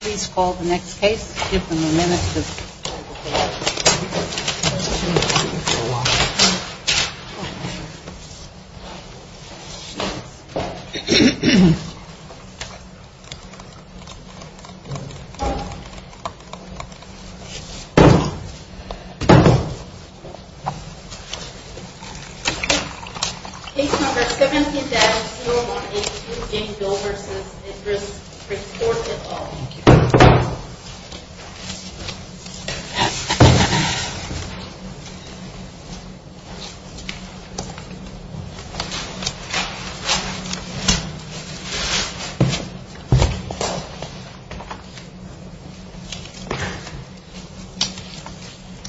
Please call the next case. Case number 17-0182, Jane Doe v. Bridgeforth, Utah. Thank you.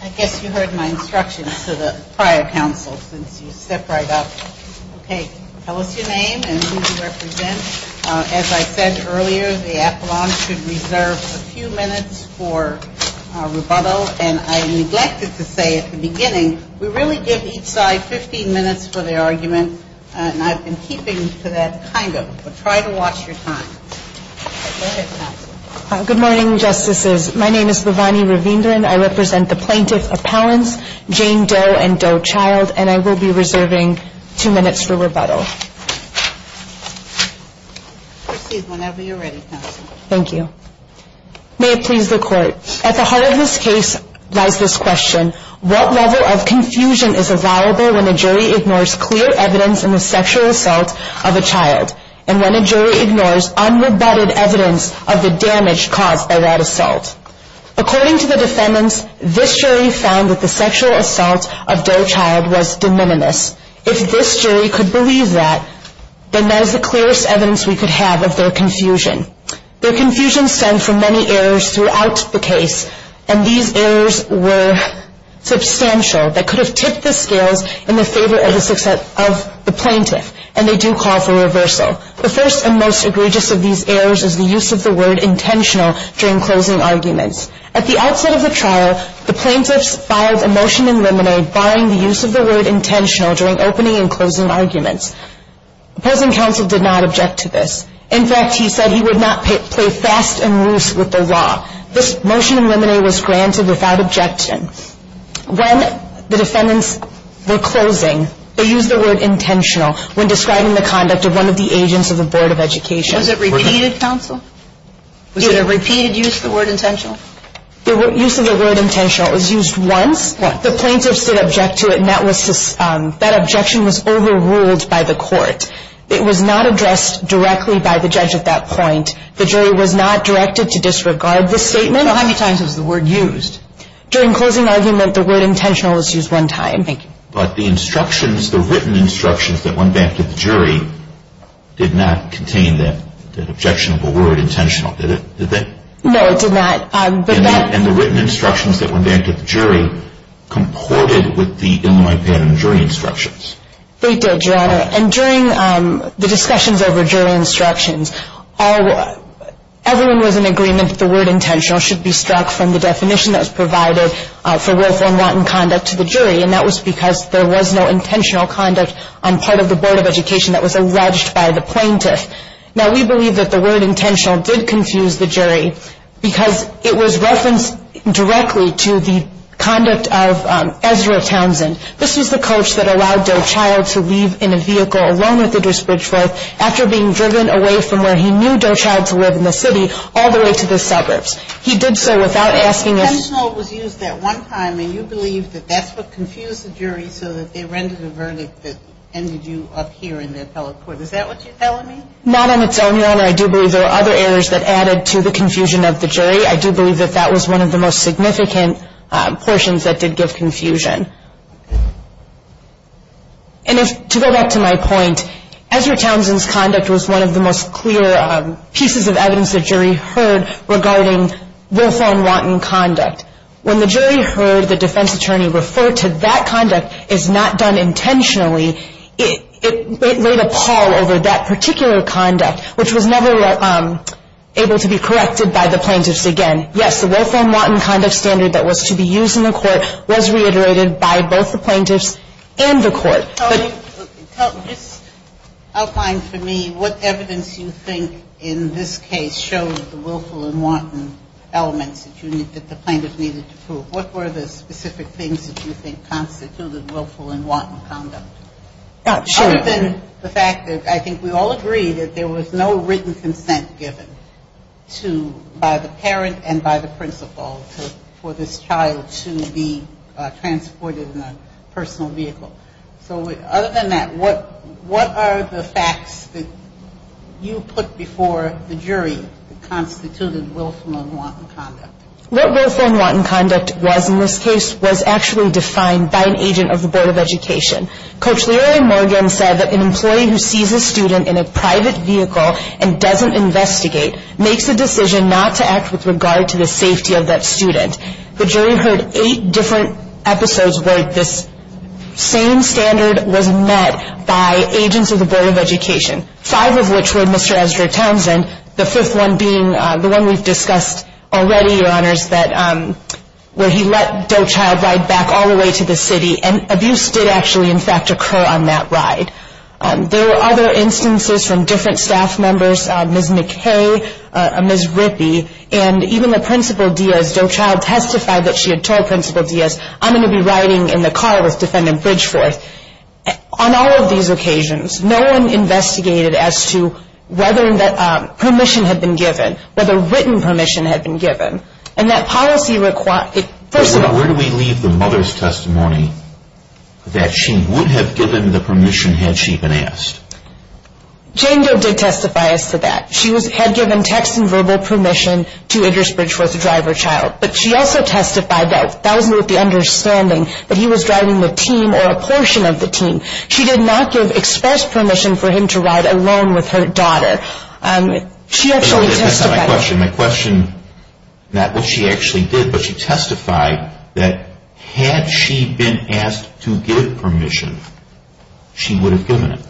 I guess you heard my instructions to the prior counsel since you stepped right up. Okay, tell us your name and who you represent. As I said earlier, the appellant should reserve a few minutes for rebuttal. And I neglected to say at the beginning, we really give each side 15 minutes for the argument, and I've been keeping to that kind of, but try to watch your time. Go ahead, counsel. Good morning, Justices. My name is Vivani Ravindran. I represent the plaintiff appellants, Jane Doe and Doe Child, and I will be reserving two minutes for rebuttal. Proceed whenever you're ready, counsel. Thank you. May it please the Court. At the heart of this case lies this question. What level of confusion is available when a jury ignores clear evidence in the sexual assault of a child, and when a jury ignores unrebutted evidence of the damage caused by that assault? According to the defendants, this jury found that the sexual assault of Doe Child was de minimis. If this jury could believe that, then that is the clearest evidence we could have of their confusion. Their confusion stemmed from many errors throughout the case, and these errors were substantial that could have tipped the scales in the favor of the plaintiff, and they do call for reversal. The first and most egregious of these errors is the use of the word intentional during closing arguments. At the outset of the trial, the plaintiffs filed a motion in limine barring the use of the word intentional during opening and closing arguments. Opposing counsel did not object to this. In fact, he said he would not play fast and loose with the law. This motion in limine was granted without objection. When the defendants were closing, they used the word intentional when describing the conduct of one of the agents of the Board of Education. Was it repeated, counsel? Was it a repeated use of the word intentional? The use of the word intentional was used once. Once. The plaintiffs did object to it, and that objection was overruled by the court. It was not addressed directly by the judge at that point. The jury was not directed to disregard this statement. So how many times was the word used? During closing argument, the word intentional was used one time. Thank you. But the instructions, the written instructions that went back to the jury, did not contain that objectionable word intentional, did it? No, it did not. And the written instructions that went back to the jury comported with the limine pattern jury instructions. They did, Your Honor. And during the discussions over jury instructions, everyone was in agreement that the word intentional should be struck from the definition that was provided for willful and rotten conduct to the jury, and that was because there was no intentional conduct on part of the Board of Education that was alleged by the plaintiff. Now, we believe that the word intentional did confuse the jury because it was referenced directly to the conduct of Ezra Townsend. This was the coach that allowed Doe Child to leave in a vehicle alone with Idris Bridgeworth after being driven away from where he knew Doe Child to live in the city all the way to the suburbs. He did so without asking us. The word intentional was used at one time, and you believe that that's what confused the jury so that they rendered a verdict that ended you up here in the appellate court. Is that what you're telling me? Not on its own, Your Honor. I do believe there were other errors that added to the confusion of the jury. I do believe that that was one of the most significant portions that did give confusion. And to go back to my point, Ezra Townsend's conduct was one of the most clear pieces of evidence the jury heard regarding willful and wanton conduct. When the jury heard the defense attorney refer to that conduct as not done intentionally, it laid a pall over that particular conduct, which was never able to be corrected by the plaintiffs again. Yes, the willful and wanton conduct standard that was to be used in the court I'll find for me what evidence you think in this case shows the willful and wanton elements that the plaintiffs needed to prove. What were the specific things that you think constituted willful and wanton conduct? Sure. Other than the fact that I think we all agree that there was no written consent given by the parent and by the principal for this child to be transported in a personal vehicle. So other than that, what are the facts that you put before the jury that constituted willful and wanton conduct? What willful and wanton conduct was in this case was actually defined by an agent of the Board of Education. Coach Leary Morgan said that an employee who sees a student in a private vehicle and doesn't investigate makes a decision not to act with regard to the safety of that student. The jury heard eight different episodes where this same standard was met by agents of the Board of Education, five of which were Mr. Ezra Townsend, the fifth one being the one we've discussed already, Your Honors, where he let Doe Child ride back all the way to the city, and abuse did actually, in fact, occur on that ride. There were other instances from different staff members, Ms. McKay, Ms. Rippey, and even the Principal Diaz, Doe Child testified that she had told Principal Diaz, I'm going to be riding in the car with Defendant Bridgeforth. On all of these occasions, no one investigated as to whether permission had been given, whether written permission had been given. And that policy requires... But where do we leave the mother's testimony that she would have given the permission had she been asked? Jane Doe did testify as to that. She had given text and verbal permission to Idris Bridgeforth to drive her child. But she also testified that that was not the understanding, that he was driving the team or a portion of the team. She did not give express permission for him to ride alone with her daughter. She actually testified... That's not my question. My question, not what she actually did, but she testified that had she been asked to give permission, she would have given it.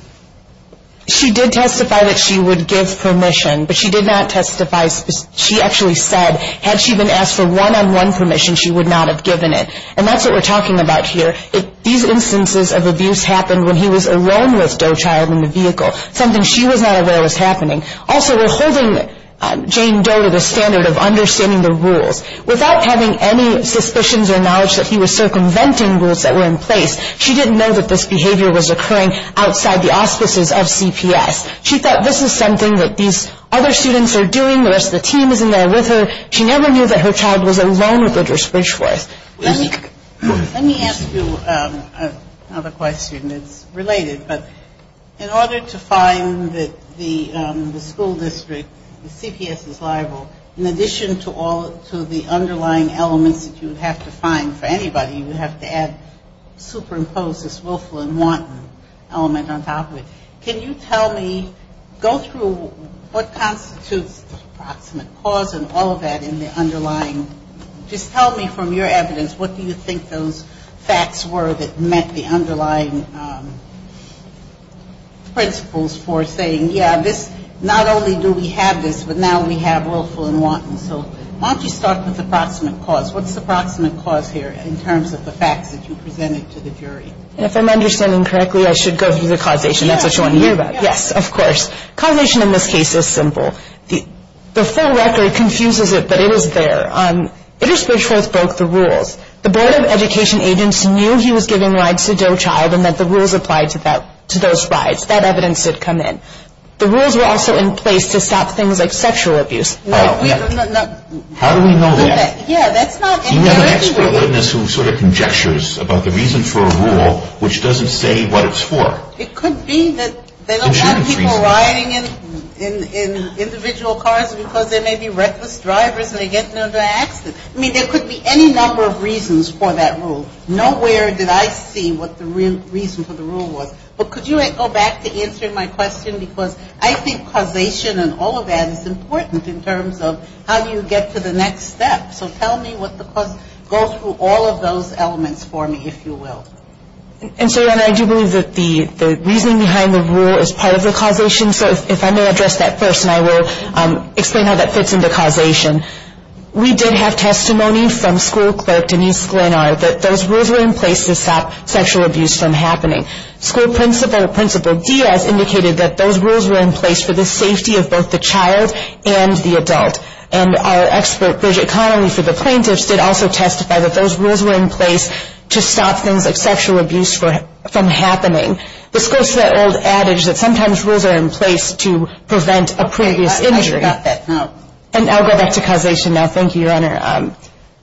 She did testify that she would give permission, but she did not testify... She actually said had she been asked for one-on-one permission, she would not have given it. And that's what we're talking about here. These instances of abuse happened when he was alone with Doe Child in the vehicle, something she was not aware was happening. Also, we're holding Jane Doe to the standard of understanding the rules. Without having any suspicions or knowledge that he was circumventing rules that were in place, she didn't know that this behavior was occurring outside the auspices of CPS. She thought this is something that these other students are doing, the rest of the team is in there with her. She never knew that her child was alone with Bridger Bridgeforth. Let me ask you another question that's related. But in order to find that the school district, the CPS is liable, in addition to the underlying elements that you would have to find for anybody, you would have to add, superimpose this willful and wanton element on top of it. Can you tell me, go through what constitutes the approximate cause and all of that in the underlying, just tell me from your evidence, what do you think those facts were that met the underlying principles for saying, yeah, this, not only do we have this, but now we have willful and wanton. So why don't you start with the approximate cause. What's the approximate cause here in terms of the facts that you presented to the jury? If I'm understanding correctly, I should go through the causation. That's what you want to hear about. Yes, of course. Causation in this case is simple. The full record confuses it, but it is there. Bridger Bridgeforth broke the rules. The Board of Education agents knew he was giving rides to Doe Child and that the rules applied to those rides. That evidence did come in. The rules were also in place to stop things like sexual abuse. How do we know that? You have an expert witness who sort of conjectures about the reason for a rule, which doesn't say what it's for. It could be that there are a lot of people riding in individual cars because there may be reckless drivers and they get into an accident. I mean, there could be any number of reasons for that rule. Nowhere did I see what the real reason for the rule was. But could you go back to answering my question? Because I think causation and all of that is important in terms of how you get to the next step. So tell me what the cause goes through all of those elements for me, if you will. And so, Donna, I do believe that the reasoning behind the rule is part of the causation. So if I may address that first, and I will explain how that fits into causation. We did have testimony from school clerk Denise Glenar that those rules were in place to stop sexual abuse from happening. School principal, Principal Diaz, indicated that those rules were in place for the safety of both the child and the adult. And our expert Bridget Connelly for the plaintiffs did also testify that those rules were in place to stop things like sexual abuse from happening. This goes to that old adage that sometimes rules are in place to prevent a previous injury. I already got that. No. And I'll go back to causation now. Thank you, Your Honor.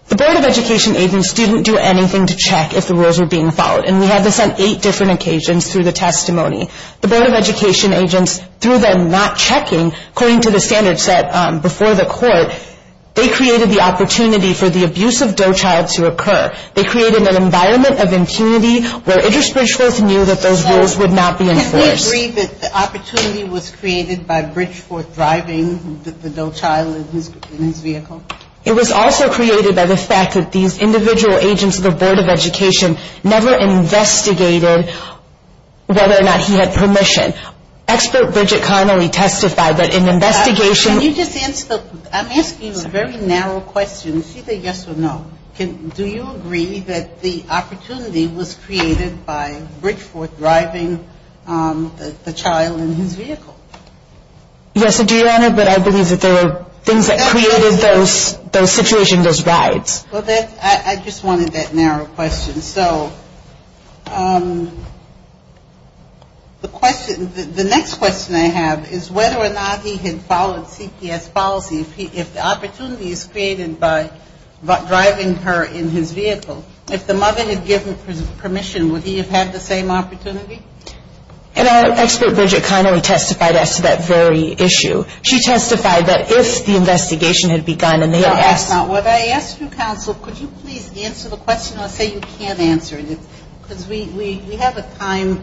The Board of Education agents didn't do anything to check if the rules were being followed. And we had this on eight different occasions through the testimony. The Board of Education agents, through them not checking, according to the standards set before the court, they created the opportunity for the abuse of Doe Child to occur. They created an environment of impunity where Idris Bridgeforth knew that those rules would not be enforced. Can we agree that the opportunity was created by Bridgeforth driving the Doe Child in his vehicle? It was also created by the fact that these individual agents of the Board of Education never investigated whether or not he had permission. Expert Bridget Connelly testified that an investigation – Can you just answer – I'm asking you a very narrow question, either yes or no. Do you agree that the opportunity was created by Bridgeforth driving the child in his vehicle? Yes, Your Honor, but I believe that there were things that created those situations, those rides. Well, I just wanted that narrow question. So the question – the next question I have is whether or not he had followed CPS policy. If the opportunity is created by driving her in his vehicle, if the mother had given permission, would he have had the same opportunity? Expert Bridget Connelly testified as to that very issue. She testified that if the investigation had begun and they had asked – Counsel, could you please answer the question? I say you can't answer it because we have a time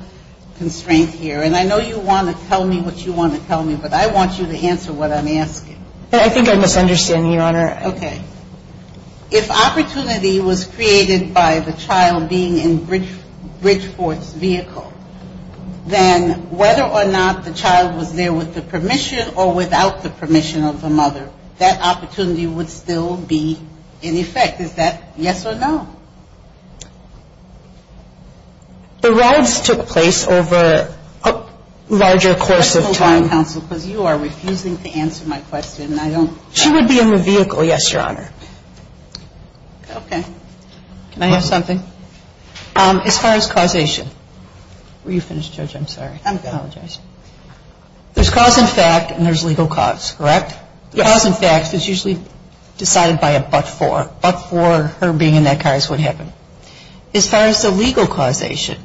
constraint here. And I know you want to tell me what you want to tell me, but I want you to answer what I'm asking. I think I'm misunderstanding, Your Honor. Okay. If opportunity was created by the child being in Bridgeforth's vehicle, then whether or not the child was there with the permission or without the permission of the mother, that opportunity would still be in effect. Is that yes or no? The rides took place over a larger course of time. Counsel, because you are refusing to answer my question. She would be in the vehicle, yes, Your Honor. Okay. Can I add something? As far as causation. Were you finished, Judge? I'm sorry. I apologize. There's cause in fact and there's legal cause, correct? Yes. Cause in fact is usually decided by a but for. But for her being in that car is what happened. As far as the legal causation,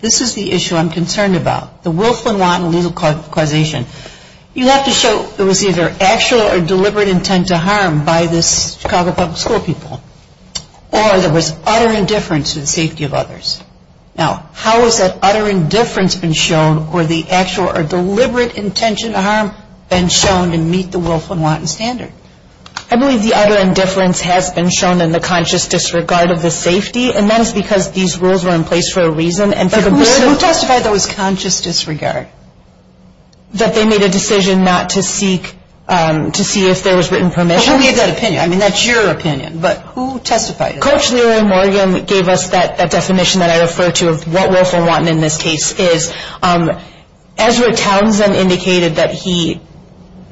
this is the issue I'm concerned about. The Wilflin-Watton legal causation. You have to show there was either actual or deliberate intent to harm by this Chicago Public School people. Or there was utter indifference to the safety of others. Now, how has that utter indifference been shown or the actual or deliberate intention to harm been shown to meet the Wilflin-Watton standard? I believe the utter indifference has been shown in the conscious disregard of the safety. And that is because these rules were in place for a reason. Who testified there was conscious disregard? That they made a decision not to seek, to see if there was written permission. Who made that opinion? I mean, that's your opinion. But who testified? Coach Leroy Morgan gave us that definition that I refer to of what Wilflin-Watton in this case is. Ezra Townsend indicated that he,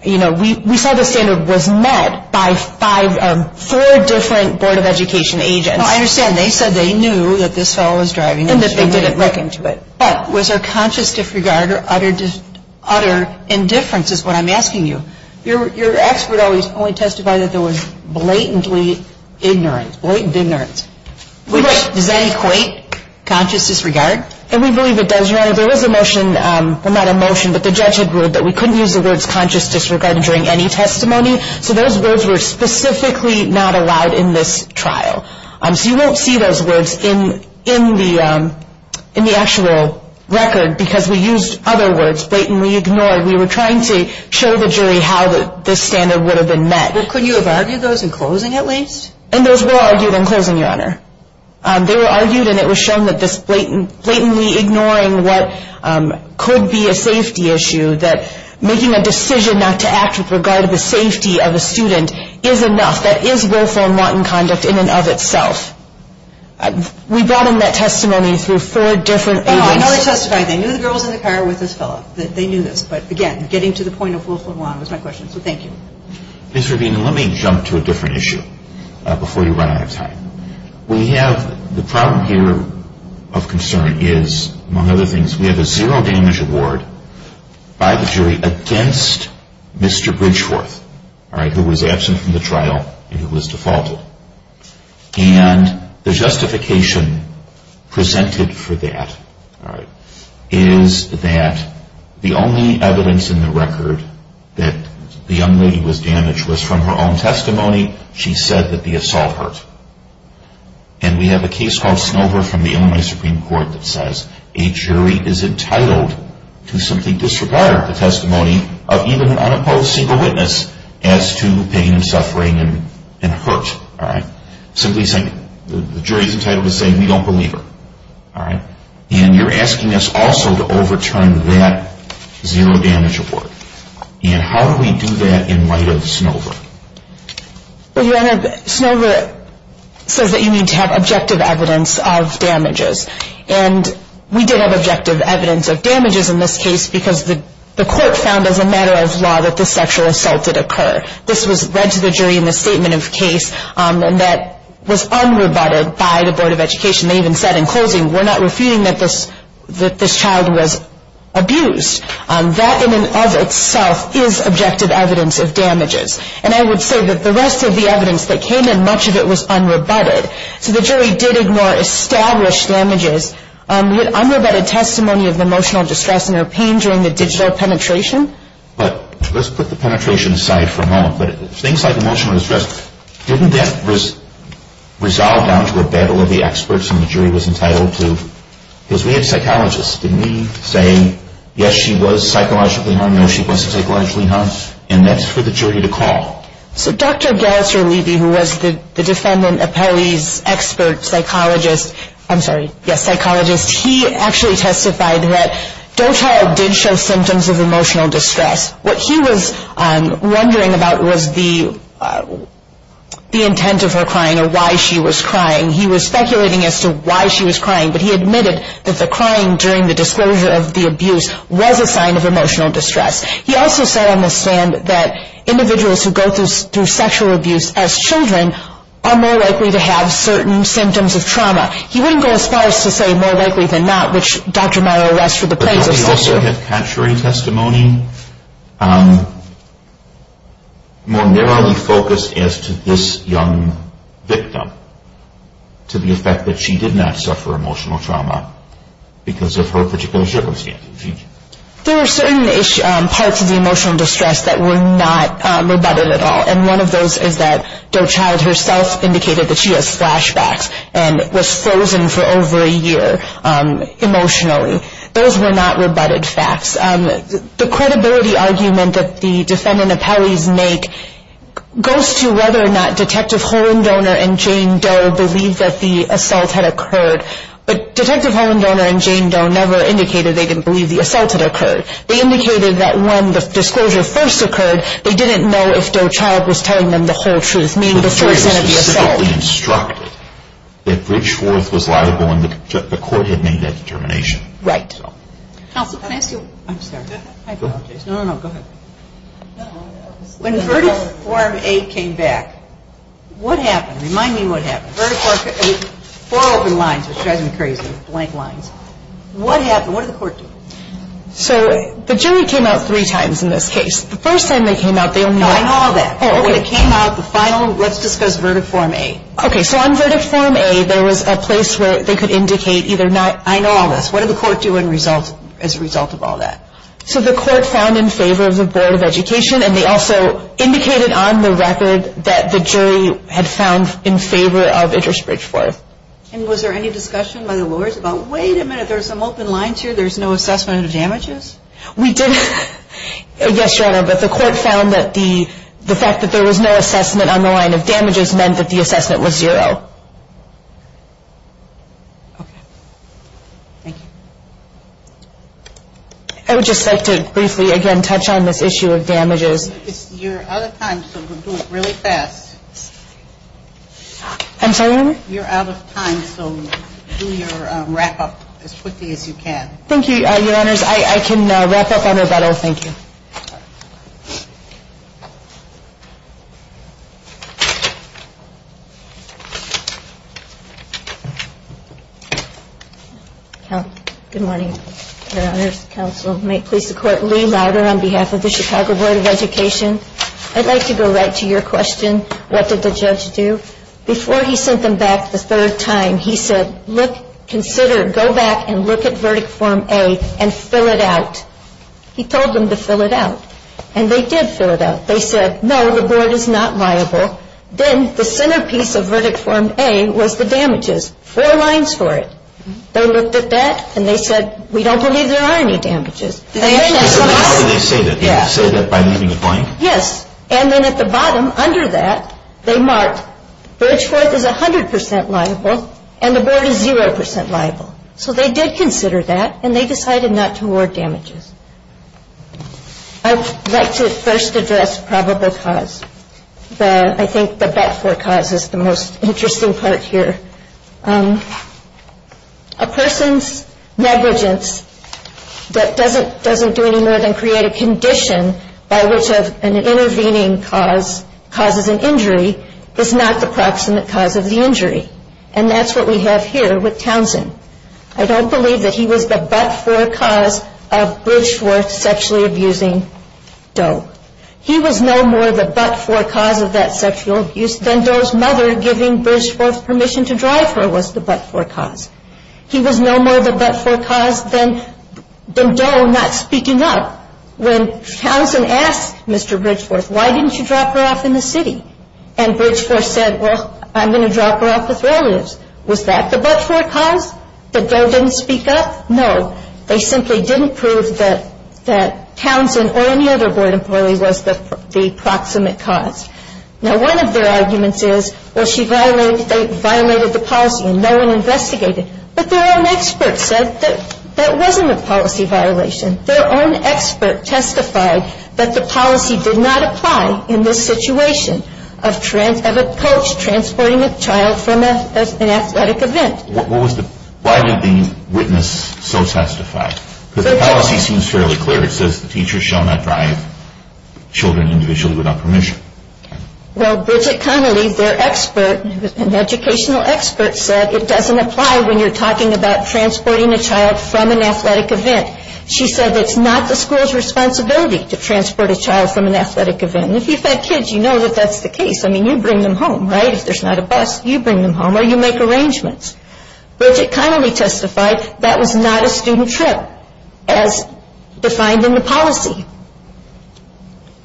you know, we saw the standard was met by four different Board of Education agents. No, I understand. They said they knew that this fellow was driving. And that they didn't look into it. But was there conscious disregard or utter indifference is what I'm asking you. Your expert only testified that there was blatantly ignorance, blatant ignorance. Does that equate conscious disregard? And we believe it does, Your Honor. There was a motion, well, not a motion, but the judge had ruled that we couldn't use the words conscious disregard during any testimony. So those words were specifically not allowed in this trial. So you won't see those words in the actual record because we used other words, blatantly ignored. We were trying to show the jury how this standard would have been met. Well, couldn't you have argued those in closing at least? And those were argued in closing, Your Honor. They were argued and it was shown that this blatantly ignoring what could be a safety issue, that making a decision not to act with regard to the safety of a student is enough. That is Wilflin-Watton conduct in and of itself. We brought in that testimony through four different agents. I know they testified. They knew the girl was in the car with this fellow. They knew this. But, again, getting to the point of Wilflin-Watton was my question. So thank you. Ms. Rubino, let me jump to a different issue before you run out of time. We have the problem here of concern is, among other things, we have a zero damage award by the jury against Mr. Bridgeworth, all right, who was absent from the trial and who was defaulted. And the justification presented for that, all right, is that the only evidence in the record that the young lady was damaged was from her own testimony. She said that the assault hurt. And we have a case called Snover from the Illinois Supreme Court that says a jury is entitled to simply disregard the testimony of even an unopposed single witness as to pain and suffering and hurt, all right. Simply saying the jury is entitled to say we don't believe her, all right. And you're asking us also to overturn that zero damage award. And how do we do that in light of Snover? Well, Your Honor, Snover says that you need to have objective evidence of damages. And we did have objective evidence of damages in this case because the court found as a matter of law that this sexual assault did occur. This was read to the jury in the statement of case and that was unrebutted by the Board of Education. They even said in closing, we're not refuting that this child was abused. That in and of itself is objective evidence of damages. And I would say that the rest of the evidence that came in, much of it was unrebutted. So the jury did ignore established damages. Unrebutted testimony of emotional distress and her pain during the digital penetration. But let's put the penetration aside for a moment. But things like emotional distress, didn't that resolve down to a battle of the experts and the jury was entitled to? Because we have psychologists. Didn't we say, yes, she was psychologically harmed, no, she wasn't psychologically harmed? And that's for the jury to call. So Dr. Gelser-Levy, who was the defendant appellee's expert psychologist, I'm sorry, yes, psychologist, he actually testified that Doetall did show symptoms of emotional distress. What he was wondering about was the intent of her crying or why she was crying. He was speculating as to why she was crying. But he admitted that the crying during the disclosure of the abuse was a sign of emotional distress. He also said on the stand that individuals who go through sexual abuse as children are more likely to have certain symptoms of trauma. He wouldn't go as far as to say more likely than not, which Dr. Meyer arrests for the plaintiffs. But doesn't he also have contrary testimony, more narrowly focused as to this young victim, to the effect that she did not suffer emotional trauma because of her particular circumstance? There were certain parts of the emotional distress that were not rebutted at all. And one of those is that Doetall herself indicated that she has flashbacks and was frozen for over a year emotionally. Those were not rebutted facts. The credibility argument that the defendant appellees make goes to whether or not Detective Holendoner and Jane Doe believed that the assault had occurred. But Detective Holendoner and Jane Doe never indicated they didn't believe the assault had occurred. They indicated that when the disclosure first occurred, they didn't know if Doe Child was telling them the whole truth. The jury was specifically instructed that Bridget Schwartz was liable and the court had made that determination. Right. Counsel, can I ask you? I'm sorry. I apologize. No, no, no. Go ahead. When Vertif Form 8 came back, what happened? Remind me what happened. Four open lines, which drives me crazy. Blank lines. What happened? What did the court do? So the jury came out three times in this case. The first time they came out, they only- No, I know all that. Oh, okay. When it came out, the final, let's discuss Vertif Form 8. Okay. So on Vertif Form 8, there was a place where they could indicate either not- I know all this. What did the court do as a result of all that? So the court found in favor of the Board of Education, and they also indicated on the record that the jury had found in favor of Interest Bridge 4. And was there any discussion by the lawyers about, wait a minute, there's some open lines here, there's no assessment of damages? We did, yes, Your Honor, but the court found that the fact that there was no assessment on the line of damages Okay. Thank you. I would just like to briefly again touch on this issue of damages. You're out of time, so we'll do it really fast. I'm sorry, Your Honor? You're out of time, so do your wrap-up as quickly as you can. Thank you, Your Honors. I can wrap up on rebuttal. Thank you. Good morning, Your Honors. Counsel may please support Lee Louder on behalf of the Chicago Board of Education. I'd like to go right to your question, what did the judge do? Before he sent them back the third time, he said, look, consider, go back and look at Verdict Form A and fill it out. He told them to fill it out. And they did fill it out. They said, no, the board is not liable. Then the centerpiece of Verdict Form A was the damages, four lines for it. They looked at that and they said, we don't believe there are any damages. Did they say that by leaving it blank? Yes. And then at the bottom, under that, they marked, Bridgeforth is 100% liable and the board is 0% liable. So they did consider that and they decided not to award damages. I'd like to first address probable cause. I think the but-for cause is the most interesting part here. A person's negligence that doesn't do any more than create a condition by which an intervening cause causes an injury is not the proximate cause of the injury. And that's what we have here with Townsend. I don't believe that he was the but-for cause of Bridgeforth sexually abusing Doe. He was no more the but-for cause of that sexual abuse than Doe's mother giving Bridgeforth permission to drive her was the but-for cause. He was no more the but-for cause than Doe not speaking up. When Townsend asked Mr. Bridgeforth, why didn't you drop her off in the city? And Bridgeforth said, well, I'm going to drop her off with relatives. Was that the but-for cause that Doe didn't speak up? No. They simply didn't prove that Townsend or any other board employee was the proximate cause. Now, one of their arguments is, well, she violated the policy and no one investigated. But their own expert said that that wasn't a policy violation. Their own expert testified that the policy did not apply in this situation of a coach transporting a child from an athletic event. Why did the witness so testify? Because the policy seems fairly clear. It says the teacher shall not drive children individually without permission. Well, Bridget Connolly, their expert, an educational expert, said it doesn't apply when you're talking about transporting a child from an athletic event. She said it's not the school's responsibility to transport a child from an athletic event. And if you've had kids, you know that that's the case. I mean, you bring them home, right? If there's not a bus, you bring them home or you make arrangements. Bridget Connolly testified that was not a student trip as defined in the policy.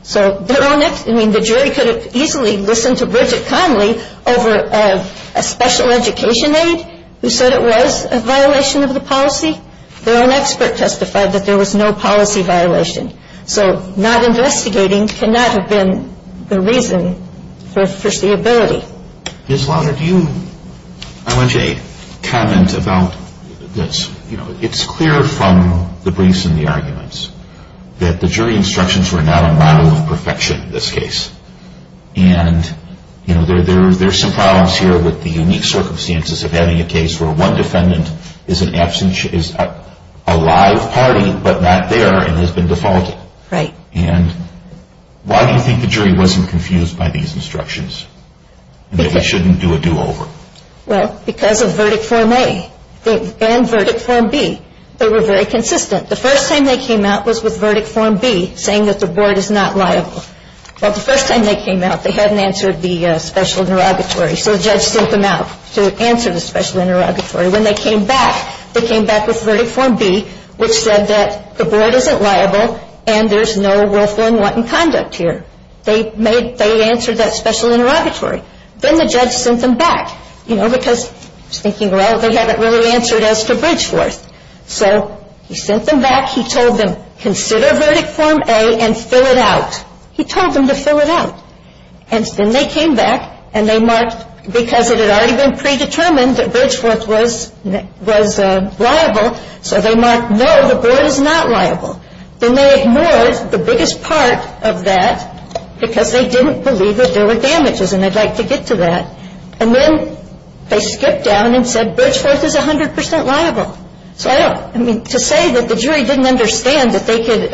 So their own expert, I mean, the jury could have easily listened to Bridget Connolly over a special education aide who said it was a violation of the policy. Their own expert testified that there was no policy violation. So not investigating cannot have been the reason for foreseeability. Ms. Lauder, do you have a comment about this? You know, it's clear from the briefs and the arguments that the jury instructions were not a model of perfection in this case. And, you know, there are some problems here with the unique circumstances of having a case where one defendant is a live party but not there and has been defaulted. Right. And why do you think the jury wasn't confused by these instructions and that we shouldn't do a do-over? Well, because of verdict form A and verdict form B. They were very consistent. The first time they came out was with verdict form B, saying that the board is not liable. Well, the first time they came out, they hadn't answered the special interrogatory. So the judge sent them out to answer the special interrogatory. When they came back, they came back with verdict form B, which said that the board isn't liable and there's no willful and wanton conduct here. They answered that special interrogatory. Then the judge sent them back, you know, because he was thinking, well, they haven't really answered as to Bridgeforth. So he sent them back. He told them, consider verdict form A and fill it out. He told them to fill it out. And then they came back and they marked, because it had already been predetermined that Bridgeforth was liable, so they marked, no, the board is not liable. Then they ignored the biggest part of that, because they didn't believe that there were damages and they'd like to get to that. And then they skipped down and said Bridgeforth is 100% liable. So, I mean, to say that the jury didn't understand that they could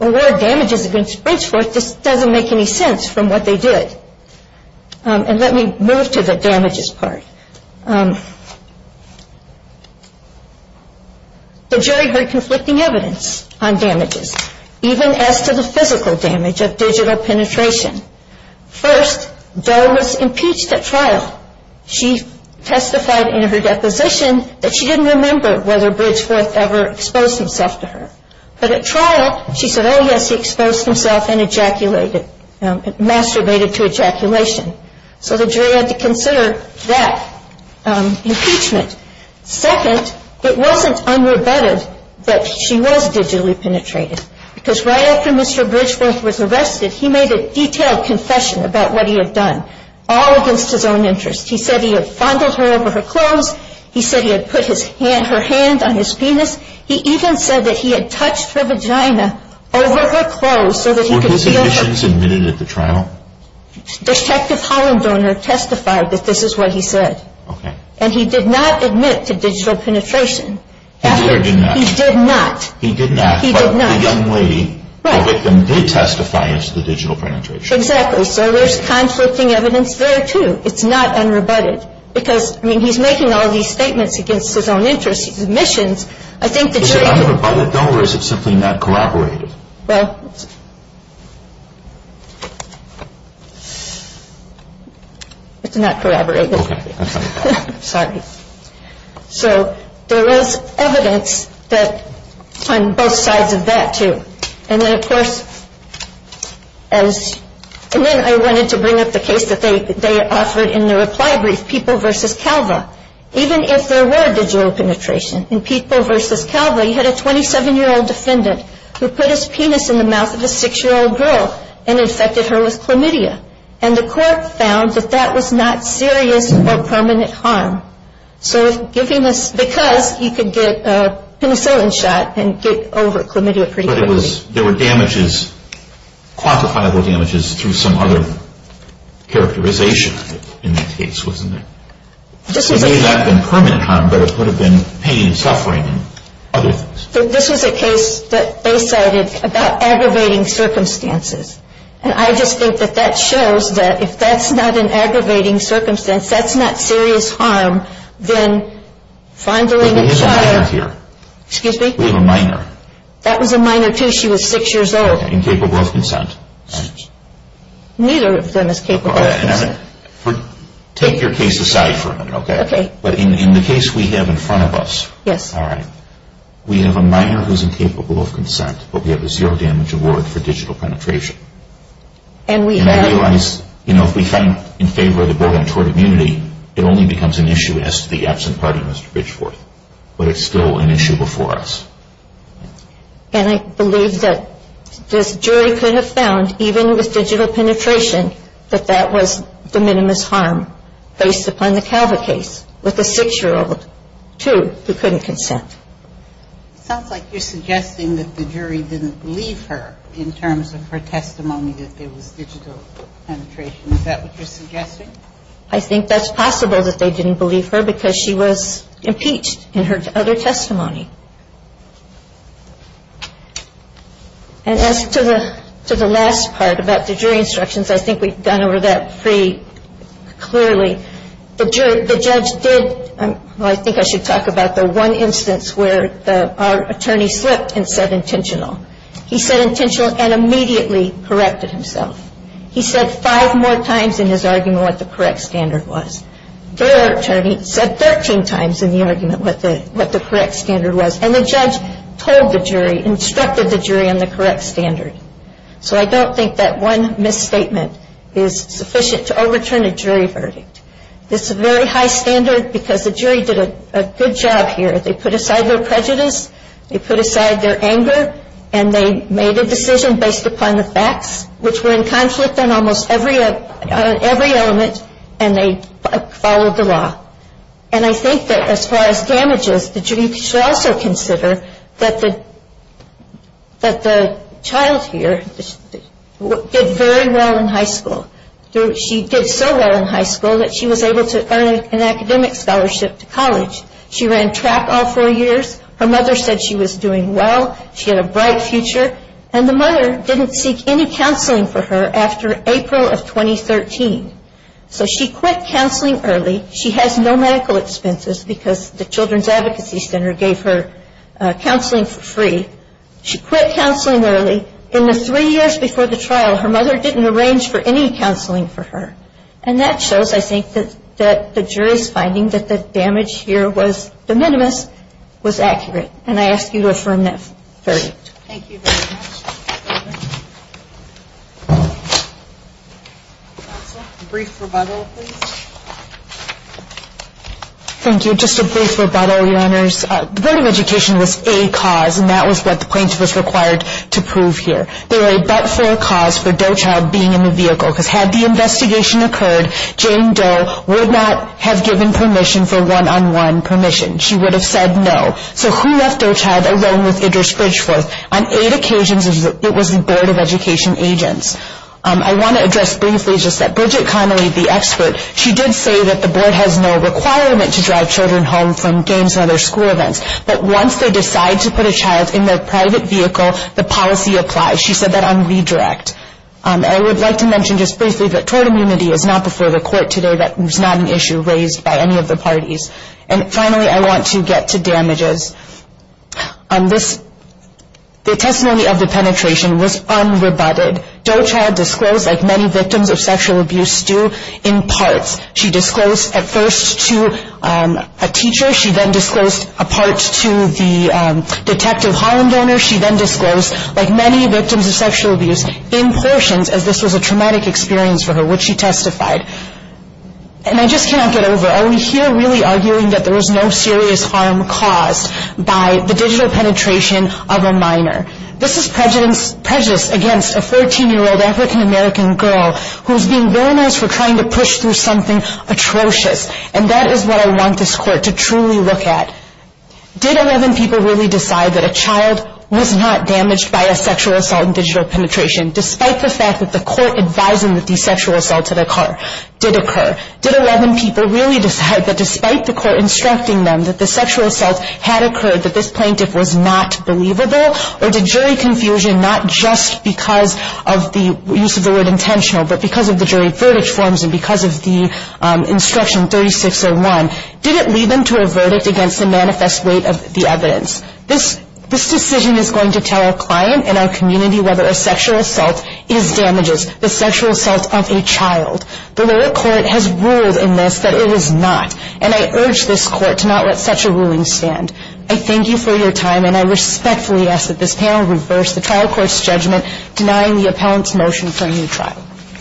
award damages against Bridgeforth, just doesn't make any sense from what they did. And let me move to the damages part. The jury heard conflicting evidence on damages, even as to the physical damage of digital penetration. First, Doe was impeached at trial. She testified in her deposition that she didn't remember whether Bridgeforth ever exposed himself to her. But at trial, she said, oh, yes, he exposed himself and ejaculated, masturbated to ejaculation. So the jury had to consider that impeachment. Second, it wasn't unrebutted that she was digitally penetrated, because right after Mr. Bridgeforth was arrested, he made a detailed confession about what he had done, all against his own interest. He said he had fondled her over her clothes. He said he had put her hand on his penis. He even said that he had touched her vagina over her clothes so that he could feel her. Were his admissions admitted at the trial? Detective Hollandoner testified that this is what he said. And he did not admit to digital penetration. He did or did not? He did not. He did not. But the young lady, the victim, did testify as to the digital penetration. Exactly. So there's conflicting evidence there, too. It's not unrebutted. Because, I mean, he's making all these statements against his own interest, his admissions. Is it unrebutted, though, or is it simply not corroborated? Well, it's not corroborated. Okay. I'm sorry. Sorry. So there is evidence on both sides of that, too. And then, of course, I wanted to bring up the case that they offered in the reply brief, People v. Calva. Even if there were digital penetration in People v. Calva, you had a 27-year-old defendant who put his penis in the mouth of a 6-year-old girl and infected her with chlamydia. And the court found that that was not serious or permanent harm. Because you could get a penicillin shot and get over chlamydia pretty quickly. But there were damages, quantifiable damages, through some other characterization in that case, wasn't there? It may not have been permanent harm, but it could have been pain and suffering and other things. This was a case that they cited about aggravating circumstances. And I just think that that shows that if that's not an aggravating circumstance, that's not serious harm, then finder and acquirer. Excuse me? We have a minor. That was a minor, too. She was 6 years old. Incapable of consent. Neither of them is capable of consent. Take your case aside for a minute, okay? Okay. But in the case we have in front of us. Yes. All right. We have a minor who's incapable of consent, but we have a zero damage award for digital penetration. And we have. And I realize, you know, if we fight in favor of the board on tort immunity, it only becomes an issue as to the absent party, Mr. Bridgeworth. But it's still an issue before us. And I believe that this jury could have found, even with digital penetration, that that was the minimus harm based upon the Calva case, with the 6-year-old, too, who couldn't consent. It sounds like you're suggesting that the jury didn't believe her in terms of her testimony that there was digital penetration. Is that what you're suggesting? I think that's possible that they didn't believe her because she was impeached in her other testimony. And as to the last part about the jury instructions, I think we've gone over that pretty clearly. The judge did. Well, I think I should talk about the one instance where our attorney slipped and said intentional. He said intentional and immediately corrected himself. He said five more times in his argument what the correct standard was. Their attorney said 13 times in the argument what the correct standard was. And the judge told the jury, instructed the jury on the correct standard. So I don't think that one misstatement is sufficient to overturn a jury verdict. It's a very high standard because the jury did a good job here. They put aside their prejudice, they put aside their anger, and they made a decision based upon the facts, which were in conflict on almost every element, and they followed the law. And I think that as far as damages, the jury should also consider that the child here did very well in high school. She did so well in high school that she was able to earn an academic scholarship to college. She ran track all four years. Her mother said she was doing well. She had a bright future. And the mother didn't seek any counseling for her after April of 2013. So she quit counseling early. She has no medical expenses because the Children's Advocacy Center gave her counseling for free. She quit counseling early. In the three years before the trial, her mother didn't arrange for any counseling for her. And that shows, I think, that the jury's finding that the damage here was de minimis, was accurate. And I ask you to affirm that verdict. Thank you very much. Counsel, a brief rebuttal, please. Thank you. Just a brief rebuttal, Your Honors. The Board of Education was a cause, and that was what the plaintiff was required to prove here. They were a but-for cause for Doe Child being in the vehicle, because had the investigation occurred, Jane Doe would not have given permission for one-on-one permission. She would have said no. So who left Doe Child alone with Idris Bridgeforth? On eight occasions, it was the Board of Education agents. I want to address briefly just that Bridget Connolly, the expert, she did say that the Board has no requirement to drive children home from games and other school events, but once they decide to put a child in their private vehicle, the policy applies. She said that on redirect. And I would like to mention just briefly that tort immunity is not before the court today. That is not an issue raised by any of the parties. And finally, I want to get to damages. The testimony of the penetration was unrebutted. Doe Child disclosed, like many victims of sexual abuse do, in parts. She disclosed at first to a teacher. She then disclosed a part to the Detective Holland owner. She then disclosed, like many victims of sexual abuse, in portions, as this was a traumatic experience for her, which she testified. And I just cannot get over it. I would hear really arguing that there was no serious harm caused by the digital penetration of a minor. This is prejudice against a 14-year-old African-American girl who is being villainized for trying to push through something atrocious. And that is what I want this court to truly look at. Did 11 people really decide that a child was not damaged by a sexual assault and digital penetration, despite the fact that the court advising that these sexual assaults did occur? Did 11 people really decide that despite the court instructing them that the sexual assault had occurred, that this plaintiff was not believable? Or did jury confusion, not just because of the use of the word intentional, but because of the jury verdict forms and because of the instruction 3601, did it lead them to a verdict against the manifest weight of the evidence? This decision is going to tell our client and our community whether a sexual assault is damages, the sexual assault of a child. The lower court has ruled in this that it is not. And I urge this court to not let such a ruling stand. I thank you for your time. And I respectfully ask that this panel reverse the trial court's judgment, denying the appellant's motion for a new trial.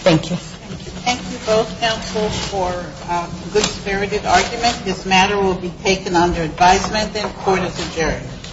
Thank you. Thank you both, counsel, for a good-spirited argument. This matter will be taken under advisement. The court is adjourned.